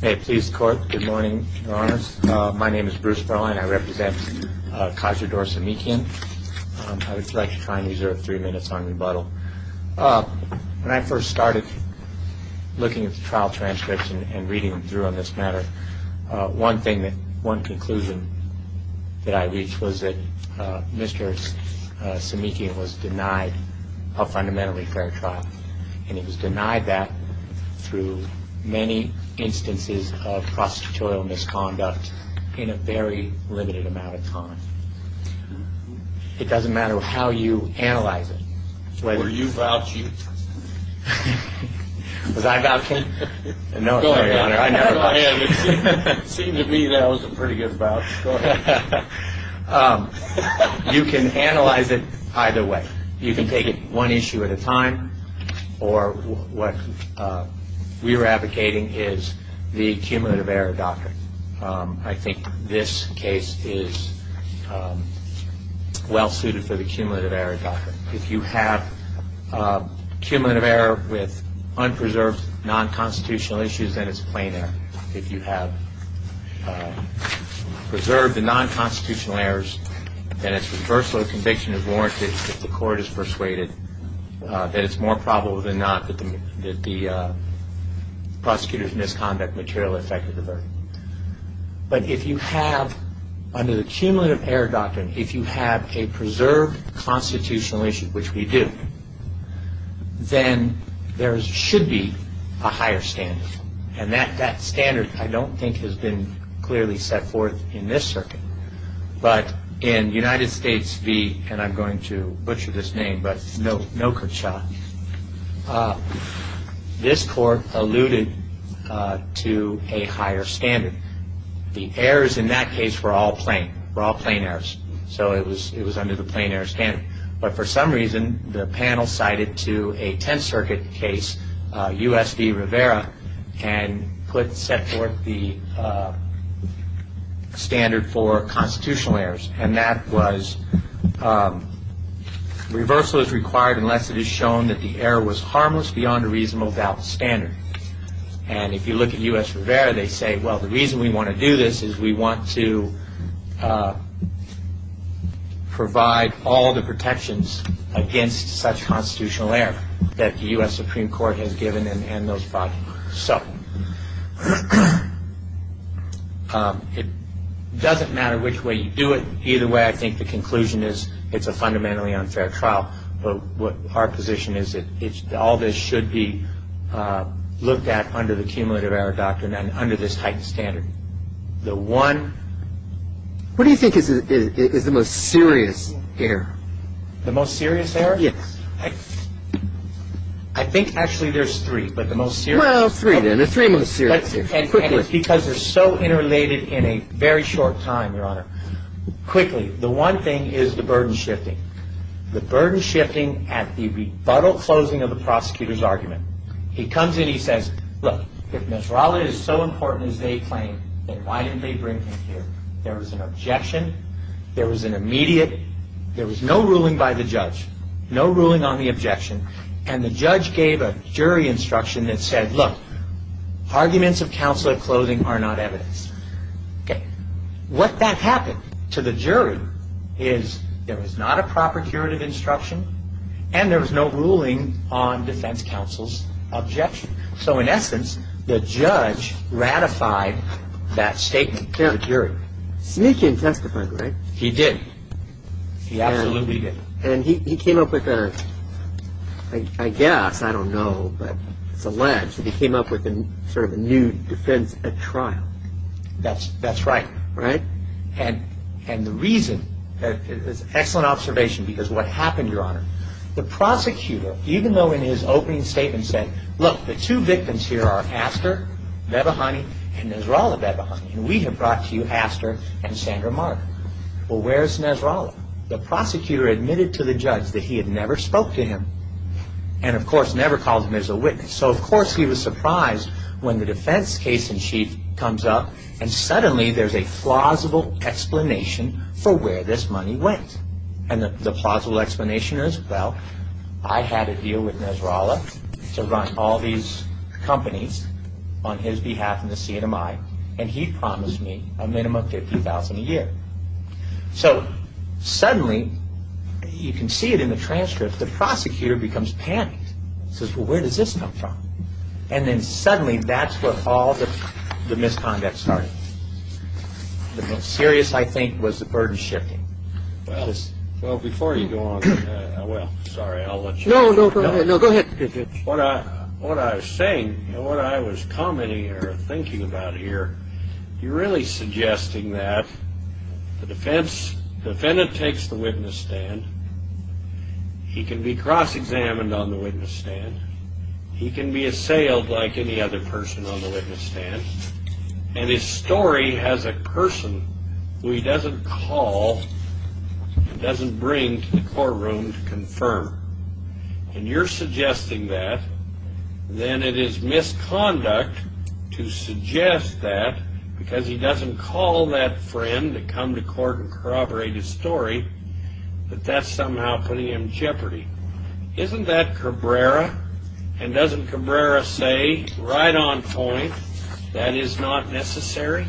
Hey, police, court, good morning, your honors. My name is Bruce Berline. I represent Khajurdor Semikian. I would like to try and reserve three minutes on rebuttal. When I first started looking at the trial transcripts and reading them through on this matter, one thing, one conclusion that I reached was that Mr. Semikian was denied a fundamentally fair trial. And he was denied that through many instances of prostitutorial misconduct in a very limited amount of time. It doesn't matter how you analyze it. Were you vouching? Was I vouching? No, your honor, I never vouched. It seemed to me that was a pretty good vouch. You can analyze it either way. You can take it one issue at a time or what we were advocating is the cumulative error doctrine. I think this case is well suited for the cumulative error doctrine. If you have cumulative error with unpreserved non-constitutional issues, then it's plain error. If you have preserved the non-constitutional errors, then it's reversal of conviction is warranted if the court is persuaded that it's more probable than not that the prosecutor's misconduct material affected the verdict. But if you have, under the cumulative error doctrine, if you have a preserved constitutional issue, which we do, then there should be a higher standard. And that standard I don't think has been clearly set forth in this circuit. But in United States v., and I'm going to butcher this name, but Nokercha, this court alluded to a higher standard. The errors in that case were all plain, were all plain errors. So it was under the plain error standard. But for some reason, the panel cited to a Tenth Circuit case, U.S. v. Rivera, and put set forth the standard for constitutional errors. And that was reversal is required unless it is shown that the error was harmless beyond a reasonable doubt standard. And if you look at U.S. v. Rivera, they say, well, the reason we want to do this is we want to provide all the protections against such constitutional error that the U.S. Supreme Court has given and those bodies. So it doesn't matter which way you do it. Either way, I think the conclusion is it's a fundamentally unfair trial. But our position is that all this should be looked at under the cumulative error doctrine and under this heightened standard. The one. What do you think is the most serious error? The most serious error? Yes. I think actually there's three, but the most serious. Well, three then. The three most serious. Quickly, the one thing is the burden shifting. The burden shifting at the rebuttal closing of the prosecutor's argument. He comes in. He says, look, if Nasrallah is so important as they claim, then why didn't they bring him here? There was an objection. There was an immediate. There was no ruling by the judge, no ruling on the objection. And the judge gave a jury instruction that said, look, arguments of counsel at closing are not evidence. What then happened to the jury is there was not a proper curative instruction and there was no ruling on defense counsel's objection. So in essence, the judge ratified that statement to the jury. Smith didn't testify, right? He didn't. He absolutely didn't. And he came up with a, I guess, I don't know, but it's alleged that he came up with sort of a new defense at trial. That's right. Right. And the reason, it's an excellent observation, because what happened, Your Honor, the prosecutor, even though in his opening statement said, look, the two victims here are Astor Bebehani and Nasrallah Bebehani, and we have brought to you Astor and Sandra Mark. Well, where's Nasrallah? The prosecutor admitted to the judge that he had never spoke to him and, of course, never called him as a witness. So, of course, he was surprised when the defense case in chief comes up and suddenly there's a plausible explanation for where this money went. And the plausible explanation is, well, I had a deal with Nasrallah to run all these companies on his behalf in the CNMI, and he promised me a minimum of $50,000 a year. So suddenly, you can see it in the transcript, the prosecutor becomes panicked. He says, well, where does this come from? And then suddenly that's where all the misconduct started. The most serious, I think, was the burden shifting. Well, before you go on, well, sorry, I'll let you go. No, no, go ahead. What I was saying, what I was commenting or thinking about here, you're really suggesting that the defendant takes the witness stand, he can be cross-examined on the witness stand, he can be assailed like any other person on the witness stand, and his story has a person who he doesn't call and doesn't bring to the courtroom to confirm. And you're suggesting that, then it is misconduct to suggest that, because he doesn't call that friend to come to court and corroborate his story, but that's somehow putting him in jeopardy. Isn't that Cabrera? And doesn't Cabrera say, right on point, that is not necessary?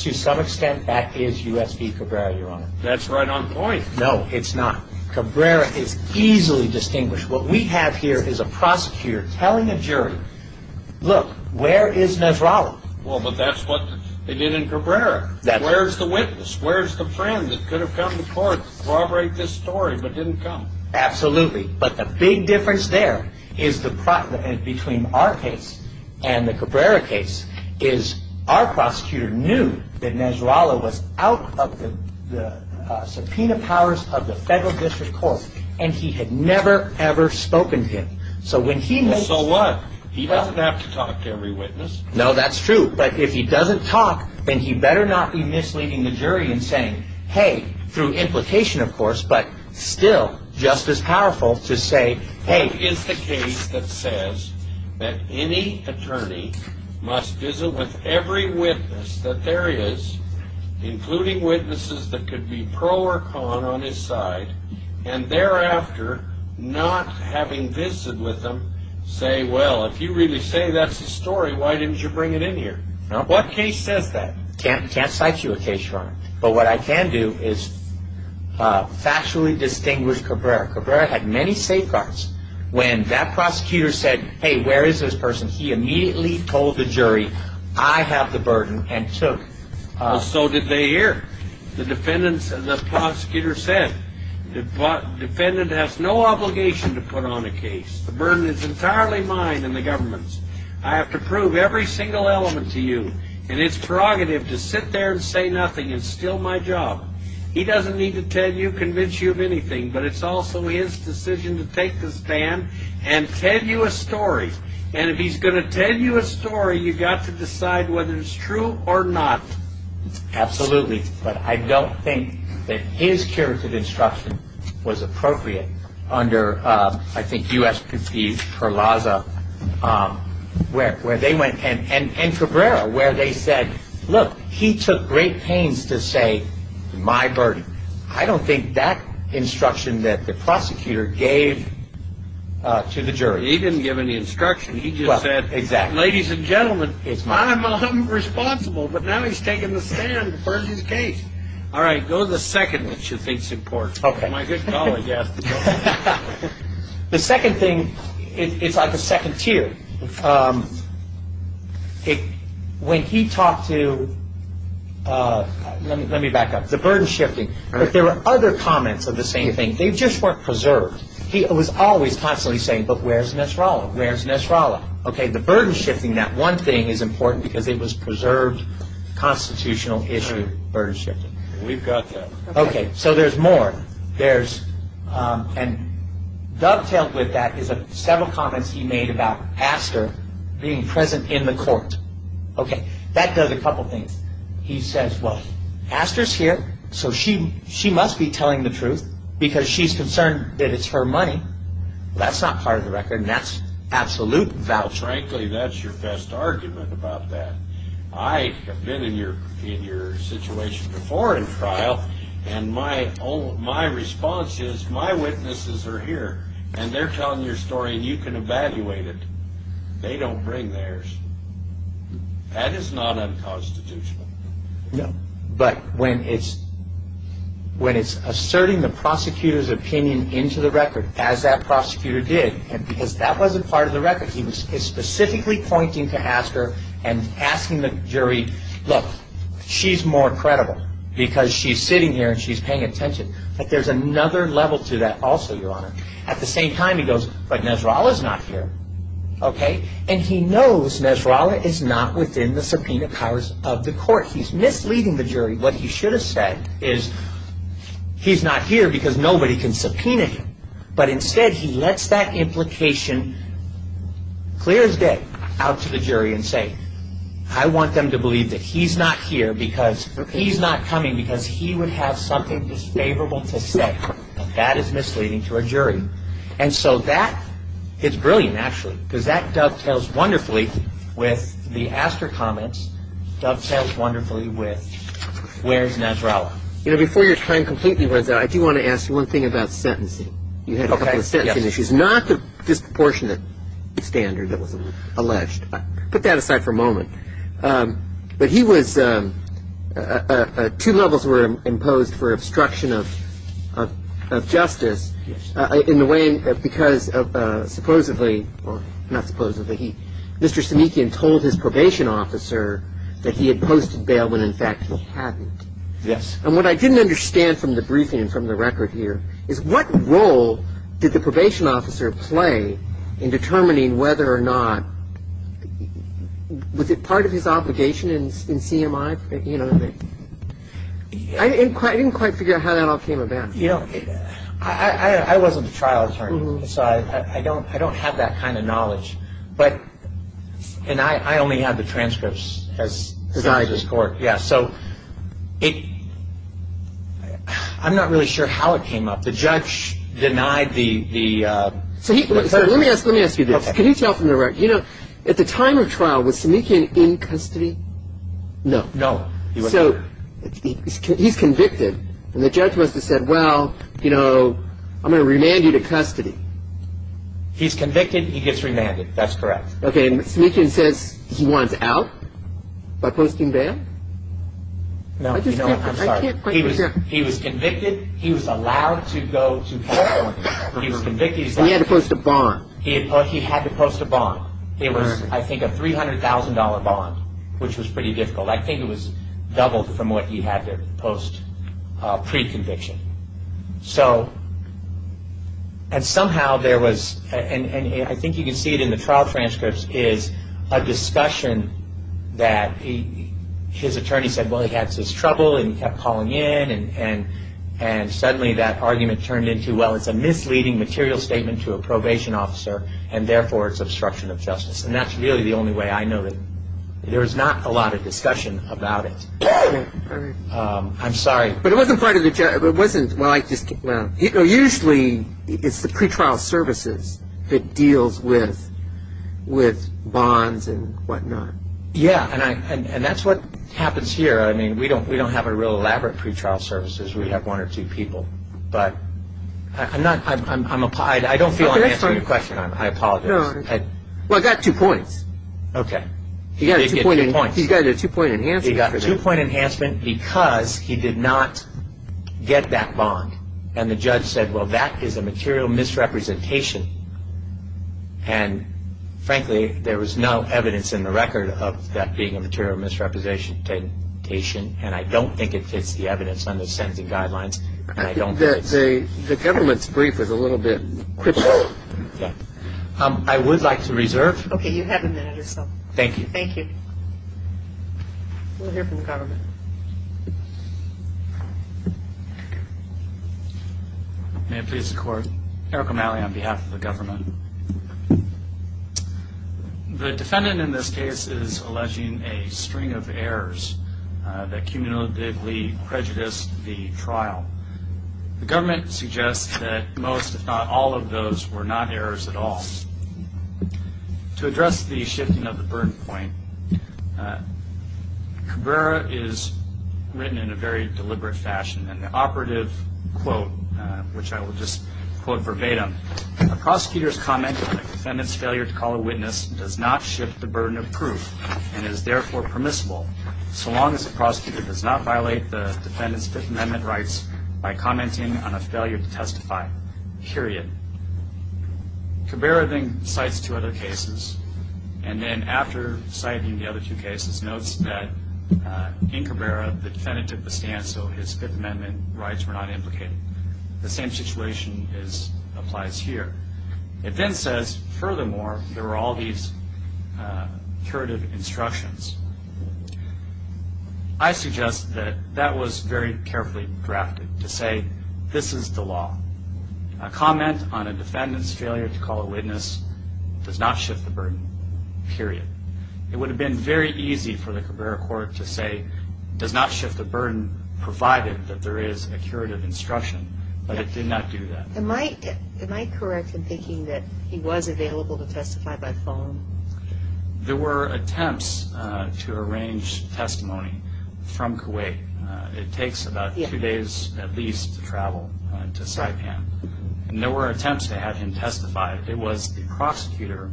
To some extent, that is U.S. v. Cabrera, Your Honor. That's right on point. No, it's not. Cabrera is easily distinguished. What we have here is a prosecutor telling a jury, look, where is Nasrallah? Well, but that's what they did in Cabrera. That's right. Where's the witness? Where's the friend that could have come to court to corroborate this story but didn't come? Absolutely. But the big difference there between our case and the Cabrera case is our prosecutor knew that Nasrallah was out of the subpoena powers of the federal district court and he had never, ever spoken to him. Well, so what? He doesn't have to talk to every witness. No, that's true. But if he doesn't talk, then he better not be misleading the jury and saying, hey, through implication, of course, but still just as powerful to say, hey. What is the case that says that any attorney must visit with every witness that there is, including witnesses that could be pro or con on his side, and thereafter not having visited with them, say, well, if you really say that's the story, why didn't you bring it in here? What case says that? Can't cite you a case, Your Honor. But what I can do is factually distinguish Cabrera. Cabrera had many safeguards. When that prosecutor said, hey, where is this person? He immediately told the jury, I have the burden, and took. Well, so did they hear. The defendants and the prosecutor said, the defendant has no obligation to put on a case. The burden is entirely mine and the government's. I have to prove every single element to you, and it's prerogative to sit there and say nothing. It's still my job. He doesn't need to tell you, convince you of anything, but it's also his decision to take the stand and tell you a story. And if he's going to tell you a story, you've got to decide whether it's true or not. Absolutely. But I don't think that his curative instruction was appropriate under, I think, USPT, Perlaza, where they went, and Cabrera, where they said, look, he took great pains to say, my burden. I don't think that instruction that the prosecutor gave to the jury. He didn't give any instruction. He just said, ladies and gentlemen, I'm responsible. But now he's taking the stand to purge his case. All right, go to the second one, which I think is important. My good colleague has to go. The second thing, it's like a second tier. When he talked to, let me back up, the burden shifting, but there were other comments of the same thing. They just weren't preserved. He was always constantly saying, but where's Nesrala? Where's Nesrala? Okay, the burden shifting, that one thing is important because it was preserved constitutional issue, burden shifting. We've got that. Okay, so there's more. And dovetailed with that is several comments he made about Astor being present in the court. Okay, that does a couple things. He says, well, Astor's here, so she must be telling the truth because she's concerned that it's her money. That's not part of the record, and that's absolute voucher. Frankly, that's your best argument about that. I have been in your situation before in trial, and my response is my witnesses are here, and they're telling your story, and you can evaluate it. They don't bring theirs. That is not unconstitutional. No, but when it's asserting the prosecutor's opinion into the record, as that prosecutor did, and because that wasn't part of the record, he was specifically pointing to Astor and asking the jury, look, she's more credible because she's sitting here and she's paying attention. But there's another level to that also, Your Honor. At the same time, he goes, but Nesrala's not here. Okay, and he knows Nesrala is not within the subpoena powers of the court. He's misleading the jury. What he should have said is he's not here because nobody can subpoena him, but instead he lets that implication clear his day out to the jury and say, I want them to believe that he's not here because he's not coming because he would have something disfavorable to say. That is misleading to a jury. And so that is brilliant, actually, because that dovetails wonderfully with the Astor comments, dovetails wonderfully with where's Nesrala. You know, before your time completely runs out, I do want to ask you one thing about sentencing. You had a couple of sentencing issues. Not the disproportionate standard that was alleged. Put that aside for a moment. But he was – two levels were imposed for obstruction of justice in the way – because supposedly – or not supposedly – Mr. Samikian told his probation officer that he had posted bail when, in fact, he hadn't. Yes. And what I didn't understand from the briefing, from the record here, is what role did the probation officer play in determining whether or not – was it part of his obligation in CMI? You know, I didn't quite figure out how that all came about. You know, I wasn't a trial attorney, so I don't have that kind of knowledge. But – and I only had the transcripts as court. Yeah, so it – I'm not really sure how it came up. The judge denied the – So let me ask you this. Okay. Can you tell from the record – you know, at the time of trial, was Samikian in custody? No. No, he wasn't. So he's convicted, and the judge must have said, well, you know, I'm going to remand you to custody. He's convicted. He gets remanded. That's correct. Okay, and Samikian says he wants out by posting bail? No. I'm sorry. He was convicted. He was allowed to go to court. He was convicted. He had to post a bond. He had to post a bond. It was, I think, a $300,000 bond, which was pretty difficult. I think it was double from what he had to post pre-conviction. So – and somehow there was – and I think you can see it in the trial transcripts – is a discussion that his attorney said, well, he had his trouble, and he kept calling in, and suddenly that argument turned into, well, it's a misleading material statement to a probation officer, and therefore it's obstruction of justice. And that's really the only way I know that there was not a lot of discussion about it. I'm sorry. But it wasn't part of the – it wasn't – well, usually it's the pretrial services that deals with bonds and whatnot. Yeah, and that's what happens here. I mean, we don't have a real elaborate pretrial services. We have one or two people. But I'm not – I don't feel I'm answering your question. I apologize. Well, it got two points. Okay. It did get two points. He's got a two-point enhancement for that. I did not get that bond. And the judge said, well, that is a material misrepresentation. And, frankly, there was no evidence in the record of that being a material misrepresentation, and I don't think it fits the evidence on the sentencing guidelines, and I don't think it's – The government's brief is a little bit cryptic. Yeah. I would like to reserve. Okay. You have a minute or so. Thank you. Thank you. We'll hear from the government. May it please the Court. Eric O'Malley on behalf of the government. The defendant in this case is alleging a string of errors that cumulatively prejudiced the trial. The government suggests that most, if not all, of those were not errors at all. To address the shifting of the burden point, Cabrera is written in a very deliberate fashion. In the operative quote, which I will just quote verbatim, a prosecutor's comment on a defendant's failure to call a witness does not shift the burden of proof and is therefore permissible so long as the prosecutor does not violate the defendant's Fifth Amendment rights by commenting on a failure to testify, period. Cabrera then cites two other cases and then, after citing the other two cases, notes that in Cabrera the defendant took the stand so his Fifth Amendment rights were not implicated. The same situation applies here. It then says, furthermore, there were all these curative instructions. I suggest that that was very carefully drafted to say this is the law. A comment on a defendant's failure to call a witness does not shift the burden, period. It would have been very easy for the Cabrera court to say, does not shift the burden provided that there is a curative instruction, but it did not do that. Am I correct in thinking that he was available to testify by phone? There were attempts to arrange testimony from Kuwait. It takes about two days at least to travel to Saipan. There were attempts to have him testify. It was the prosecutor,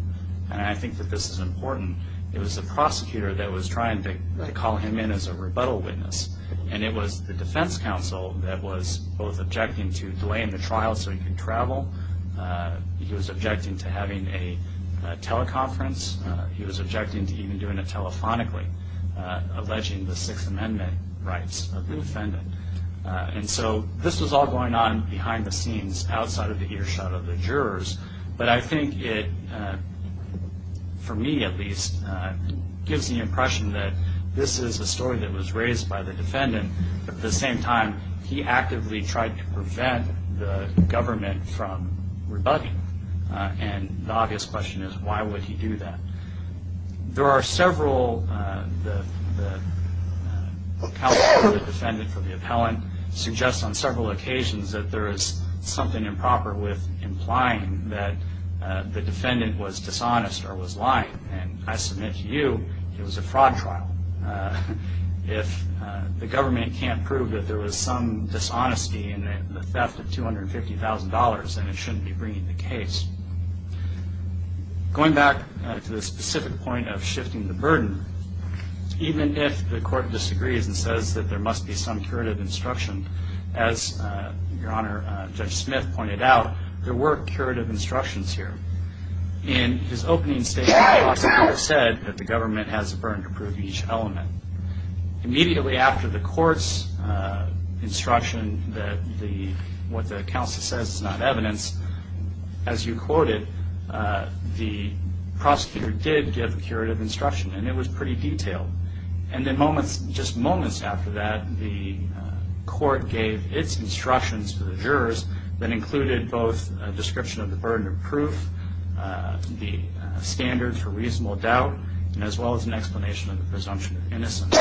and I think that this is important, it was the prosecutor that was trying to call him in as a rebuttal witness, and it was the defense counsel that was both objecting to delaying the trial so he could travel. He was objecting to having a teleconference. He was objecting to even doing it telephonically, alleging the Sixth Amendment rights of the defendant. And so this was all going on behind the scenes outside of the earshot of the jurors, but I think it, for me at least, gives the impression that this is a story that was raised by the defendant. At the same time, he actively tried to prevent the government from rebutting, and the obvious question is why would he do that? There are several, the counsel of the defendant for the appellant suggests on several occasions that there is something improper with implying that the defendant was dishonest or was lying, and I submit to you it was a fraud trial. If the government can't prove that there was some dishonesty in the theft of $250,000, then it shouldn't be bringing the case. Going back to the specific point of shifting the burden, even if the court disagrees and says that there must be some curative instruction, as Your Honor, Judge Smith pointed out, there were curative instructions here. In his opening statement, the prosecutor said that the government has a burden to prove each element. Immediately after the court's instruction that what the counsel says is not evidence, as you quoted, the prosecutor did give curative instruction, and it was pretty detailed. And then moments, just moments after that, the court gave its instructions to the jurors that included both a description of the burden of proof, the standards for reasonable doubt, and as well as an explanation of the presumption of innocence.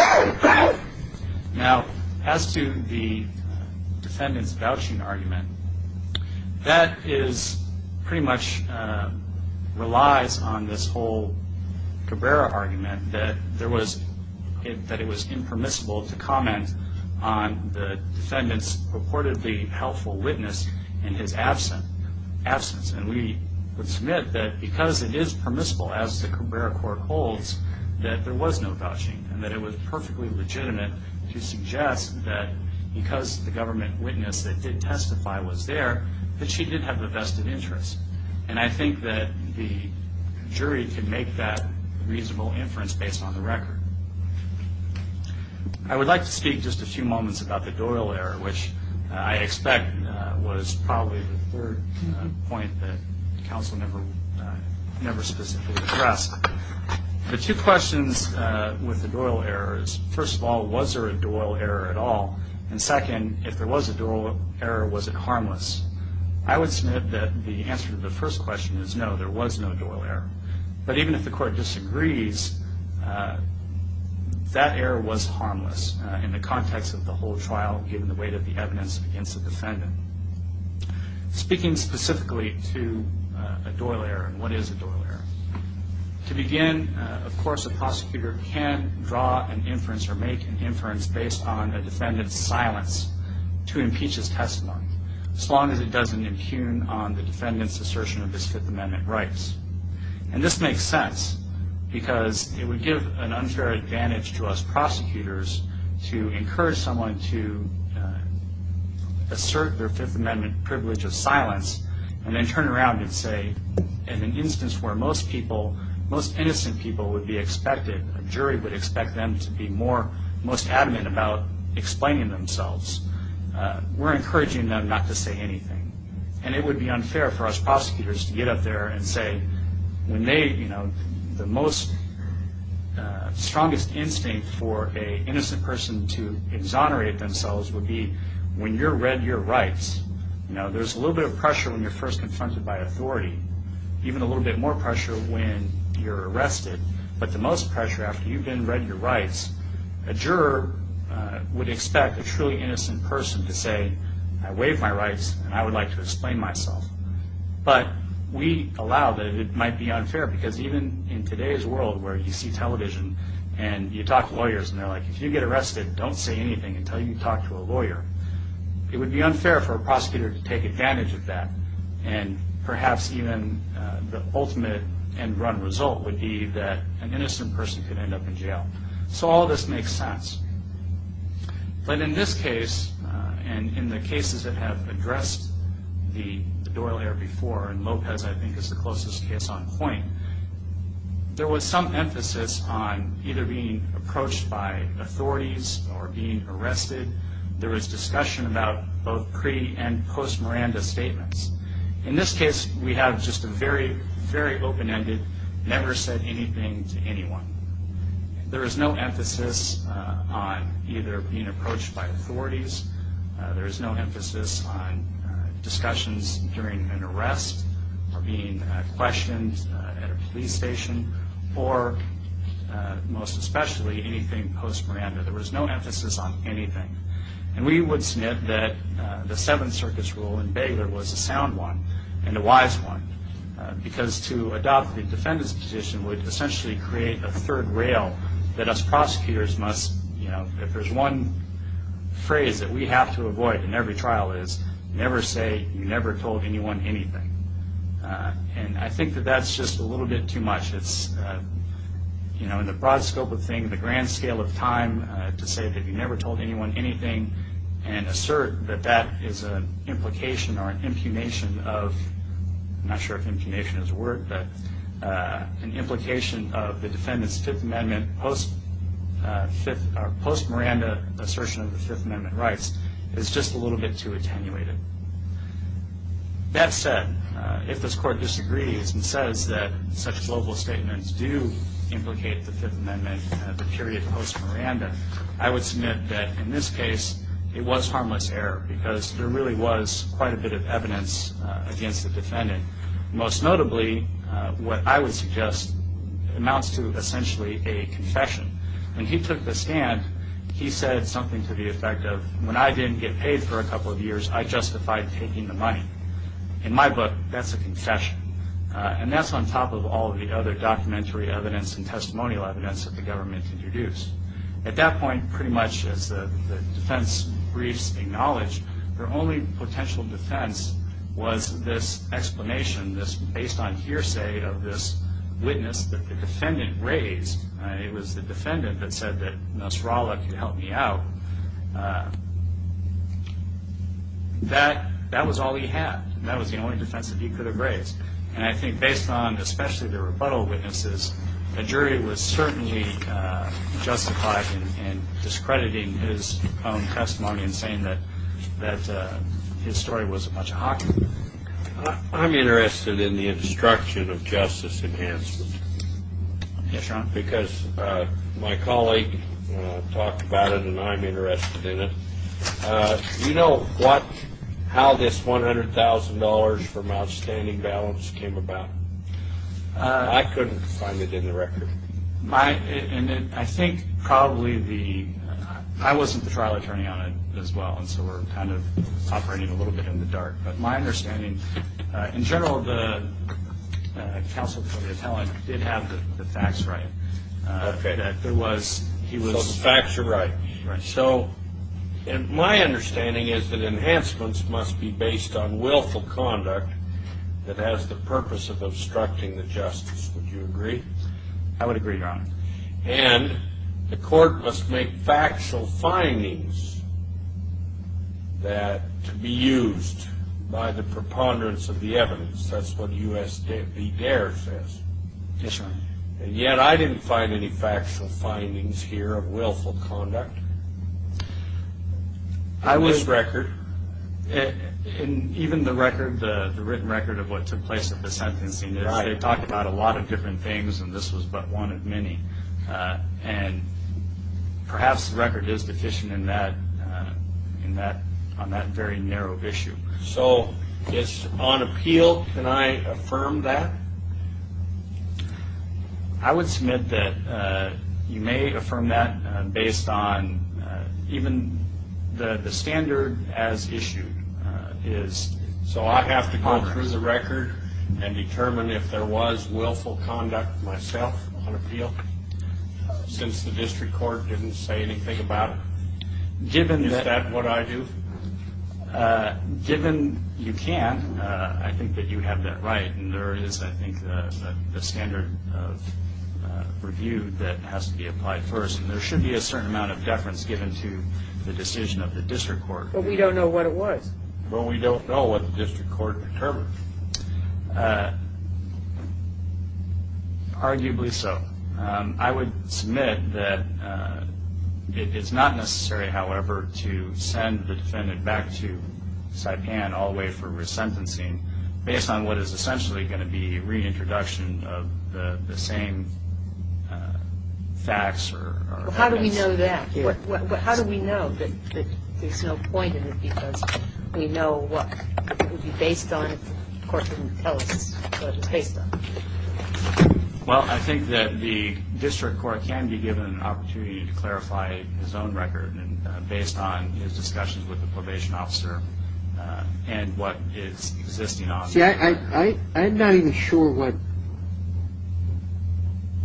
Now, as to the defendant's vouching argument, that pretty much relies on this whole Cabrera argument that it was impermissible to comment on the defendant's purportedly helpful witness in his absence. And we would submit that because it is permissible, as the Cabrera court holds, that there was no vouching and that it was perfectly legitimate to suggest that because the government witness that did testify was there, that she did have a vested interest. And I think that the jury can make that reasonable inference based on the record. I would like to speak just a few moments about the Doyle error, which I expect was probably the third point that counsel never specifically addressed. The two questions with the Doyle error is, first of all, was there a Doyle error at all? And second, if there was a Doyle error, was it harmless? I would submit that the answer to the first question is no, there was no Doyle error. But even if the court disagrees, that error was harmless in the context of the whole trial, given the weight of the evidence against the defendant. Speaking specifically to a Doyle error and what is a Doyle error, to begin, of course, a prosecutor can draw an inference or make an inference based on a defendant's silence to impeach his testimony, as long as it doesn't impugn on the defendant's assertion of his Fifth Amendment rights. And this makes sense because it would give an unfair advantage to us prosecutors to encourage someone to assert their Fifth Amendment privilege of silence and then turn around and say, in an instance where most innocent people would be expected, a jury would expect them to be most adamant about explaining themselves, we're encouraging them not to say anything. And it would be unfair for us prosecutors to get up there and say, the most strongest instinct for an innocent person to exonerate themselves would be when you're read your rights, there's a little bit of pressure when you're first confronted by authority, even a little bit more pressure when you're arrested, but the most pressure after you've been read your rights, a juror would expect a truly innocent person to say, I waive my rights and I would like to explain myself. But we allow that it might be unfair because even in today's world where you see television and you talk to lawyers and they're like, if you get arrested, don't say anything until you talk to a lawyer. It would be unfair for a prosecutor to take advantage of that and perhaps even the ultimate end run result would be that an innocent person could end up in jail. So all this makes sense. But in this case, and in the cases that have addressed the Doyle Air before, and Lopez I think is the closest case on point, there was some emphasis on either being approached by authorities or being arrested. There was discussion about both pre and post Miranda statements. In this case, we have just a very, very open-ended, never said anything to anyone. There is no emphasis on either being approached by authorities. There is no emphasis on discussions during an arrest or being questioned at a police station or most especially anything post Miranda. There was no emphasis on anything. And we would snit that the Seventh Circuit's rule in Baylor was a sound one and a wise one because to adopt the defendant's position would essentially create a third rail that us prosecutors must, if there's one phrase that we have to avoid in every trial is never say you never told anyone anything. And I think that that's just a little bit too much. In the broad scope of things, the grand scale of time to say that you never told anyone anything and assert that that is an implication or an impunation of, I'm not sure if impunation is a word, but an implication of the defendant's Fifth Amendment post Miranda assertion of the Fifth Amendment rights is just a little bit too attenuated. That said, if this Court disagrees and says that such global statements do implicate the Fifth Amendment, the period post Miranda, I would snit that in this case it was harmless error because there really was quite a bit of evidence against the defendant. Most notably, what I would suggest amounts to essentially a confession. When he took the stand, he said something to the effect of when I didn't get paid for a couple of years, I justified taking the money. In my book, that's a confession. And that's on top of all the other documentary evidence and testimonial evidence that the government introduced. At that point, pretty much as the defense briefs acknowledged, their only potential defense was this explanation, this based on hearsay of this witness that the defendant raised. It was the defendant that said that Nasrallah could help me out. That was all he had. That was the only defense that he could have raised. And I think based on especially the rebuttal witnesses, a jury was certainly justified in discrediting his own testimony and saying that his story was a bunch of hockey. I'm interested in the obstruction of justice enhancement. Yes, Your Honor. Because my colleague talked about it and I'm interested in it. Do you know how this $100,000 from Outstanding Balance came about? I couldn't find it in the record. I think probably the – I wasn't the trial attorney on it as well, and so we're kind of operating a little bit in the dark. But my understanding, in general, the counsel for the appellant did have the facts right. Okay. He was – So the facts are right. Right. So my understanding is that enhancements must be based on willful conduct that has the purpose of obstructing the justice. Would you agree? I would agree, Your Honor. And the court must make factual findings that – to be used by the preponderance of the evidence. That's what U.S. v. Dares says. Yes, Your Honor. And yet I didn't find any factual findings here of willful conduct. I was – In this record. In even the record, the written record of what took place at the sentencing. Right. They talked about a lot of different things, and this was but one of many. And perhaps the record is deficient in that – on that very narrow issue. So it's on appeal. Can I affirm that? I would submit that you may affirm that based on even the standard as issued. So I have to go through the record and determine if there was willful conduct myself on appeal, since the district court didn't say anything about it? Given that – Is that what I do? Given you can, I think that you have that right. And there is, I think, the standard of review that has to be applied first. And there should be a certain amount of deference given to the decision of the district court. But we don't know what it was. Well, we don't know what the district court determined. Arguably so. I would submit that it's not necessary, however, to send the defendant back to Saipan all the way for resentencing based on what is essentially going to be reintroduction of the same facts or evidence. How do we know that? How do we know that there's no point in it because we know what it would be based on if the court didn't tell us what it was based on? Well, I think that the district court can be given an opportunity to clarify his own record based on his discussions with the probation officer and what it's existing on. See, I'm not even sure what,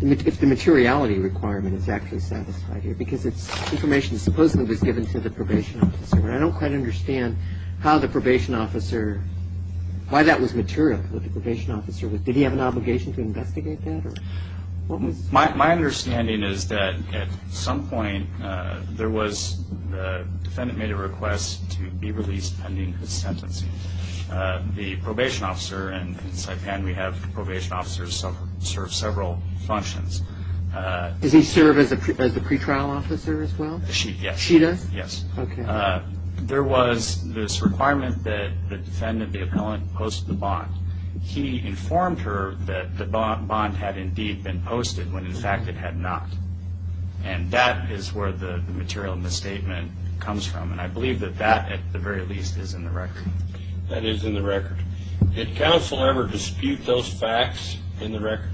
if the materiality requirement is actually satisfied here because it's information that supposedly was given to the probation officer. I don't quite understand how the probation officer, why that was material, what the probation officer was. Did he have an obligation to investigate that? My understanding is that at some point there was, the defendant made a request to be released pending his sentencing. The probation officer in Saipan, we have probation officers serve several functions. Does he serve as a pretrial officer as well? Yes. She does? Yes. There was this requirement that the defendant, the appellant, post the bond. He informed her that the bond had indeed been posted when in fact it had not. And that is where the material misstatement comes from. And I believe that that, at the very least, is in the record. That is in the record. Did counsel ever dispute those facts in the record?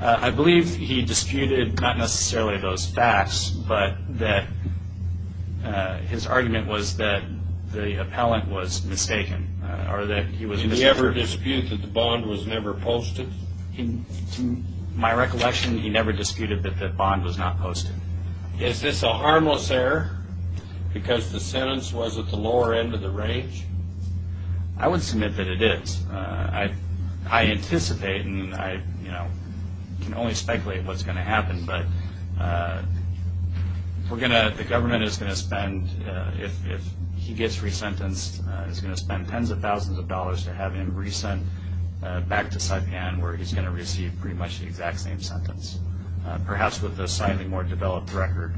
I believe he disputed not necessarily those facts, but that his argument was that the appellant was mistaken. Did he ever dispute that the bond was never posted? To my recollection, he never disputed that the bond was not posted. Is this a harmless error because the sentence was at the lower end of the range? I would submit that it is. I anticipate and I can only speculate what is going to happen, but the government is going to spend, if he gets re-sentenced, is going to spend tens of thousands of dollars to have him re-sent back to Saipan where he is going to receive pretty much the exact same sentence, perhaps with a slightly more developed record.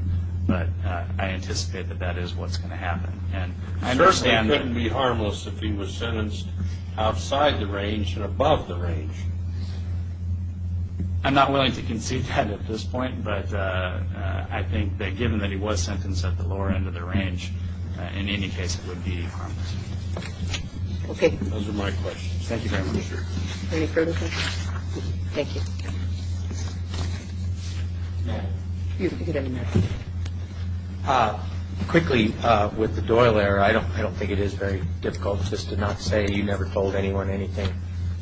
But I anticipate that that is what is going to happen. Firstly, it couldn't be harmless if he was sentenced outside the range and above the range. I'm not willing to concede that at this point, but I think that given that he was sentenced at the lower end of the range, in any case, it would be harmless. Okay. Those are my questions. Thank you very much, sir. Any further questions? Thank you. Quickly, with the Doyle error, I don't think it is very difficult just to not say you never told anyone anything.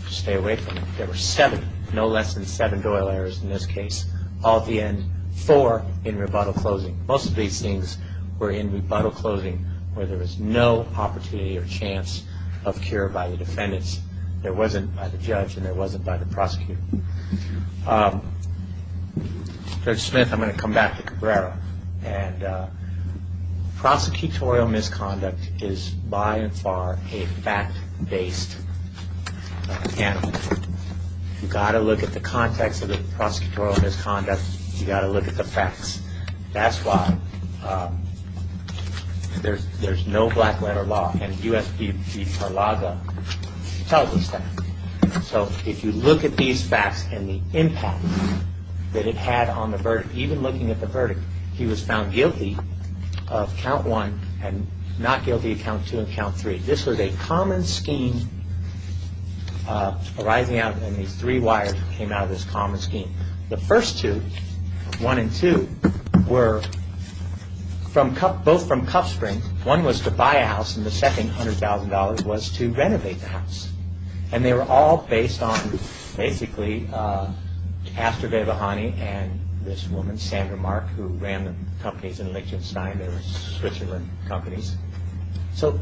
Stay away from it. There were seven, no less than seven Doyle errors in this case, all at the end, four in rebuttal closing. Most of these things were in rebuttal closing where there was no opportunity or chance of cure by the defendants. There wasn't by the judge and there wasn't by the prosecutor. Judge Smith, I'm going to come back to Cabrera. Prosecutorial misconduct is by and far a fact-based animal. You've got to look at the context of the prosecutorial misconduct. You've got to look at the facts. That's why there's no black letter law and U.S. v. Parlaga tells us that. So if you look at these facts and the impact that it had on the verdict, even looking at the verdict, he was found guilty of count one and not guilty of count two and count three. This was a common scheme arising out and these three wires came out of this common scheme. The first two, one and two, were both from cuff springs. One was to buy a house and the second, $100,000, was to renovate the house. And they were all based on, basically, Aster Devahani and this woman, Sandra Mark, who ran the companies in Liechtenstein. They were Switzerland companies. So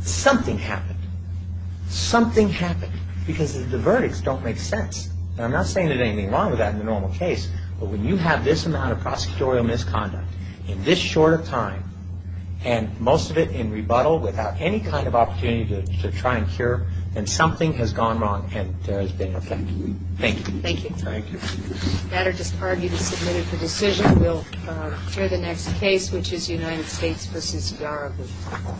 something happened. Something happened because the verdicts don't make sense. And I'm not saying there's anything wrong with that in the normal case, but when you have this amount of prosecutorial misconduct in this short a time and most of it in rebuttal without any kind of opportunity to try and cure, then something has gone wrong and there has been effect. Thank you. Thank you. Thank you. If that will dispard you to submit it for decision, we'll hear the next case, which is United States v. Zaragoza.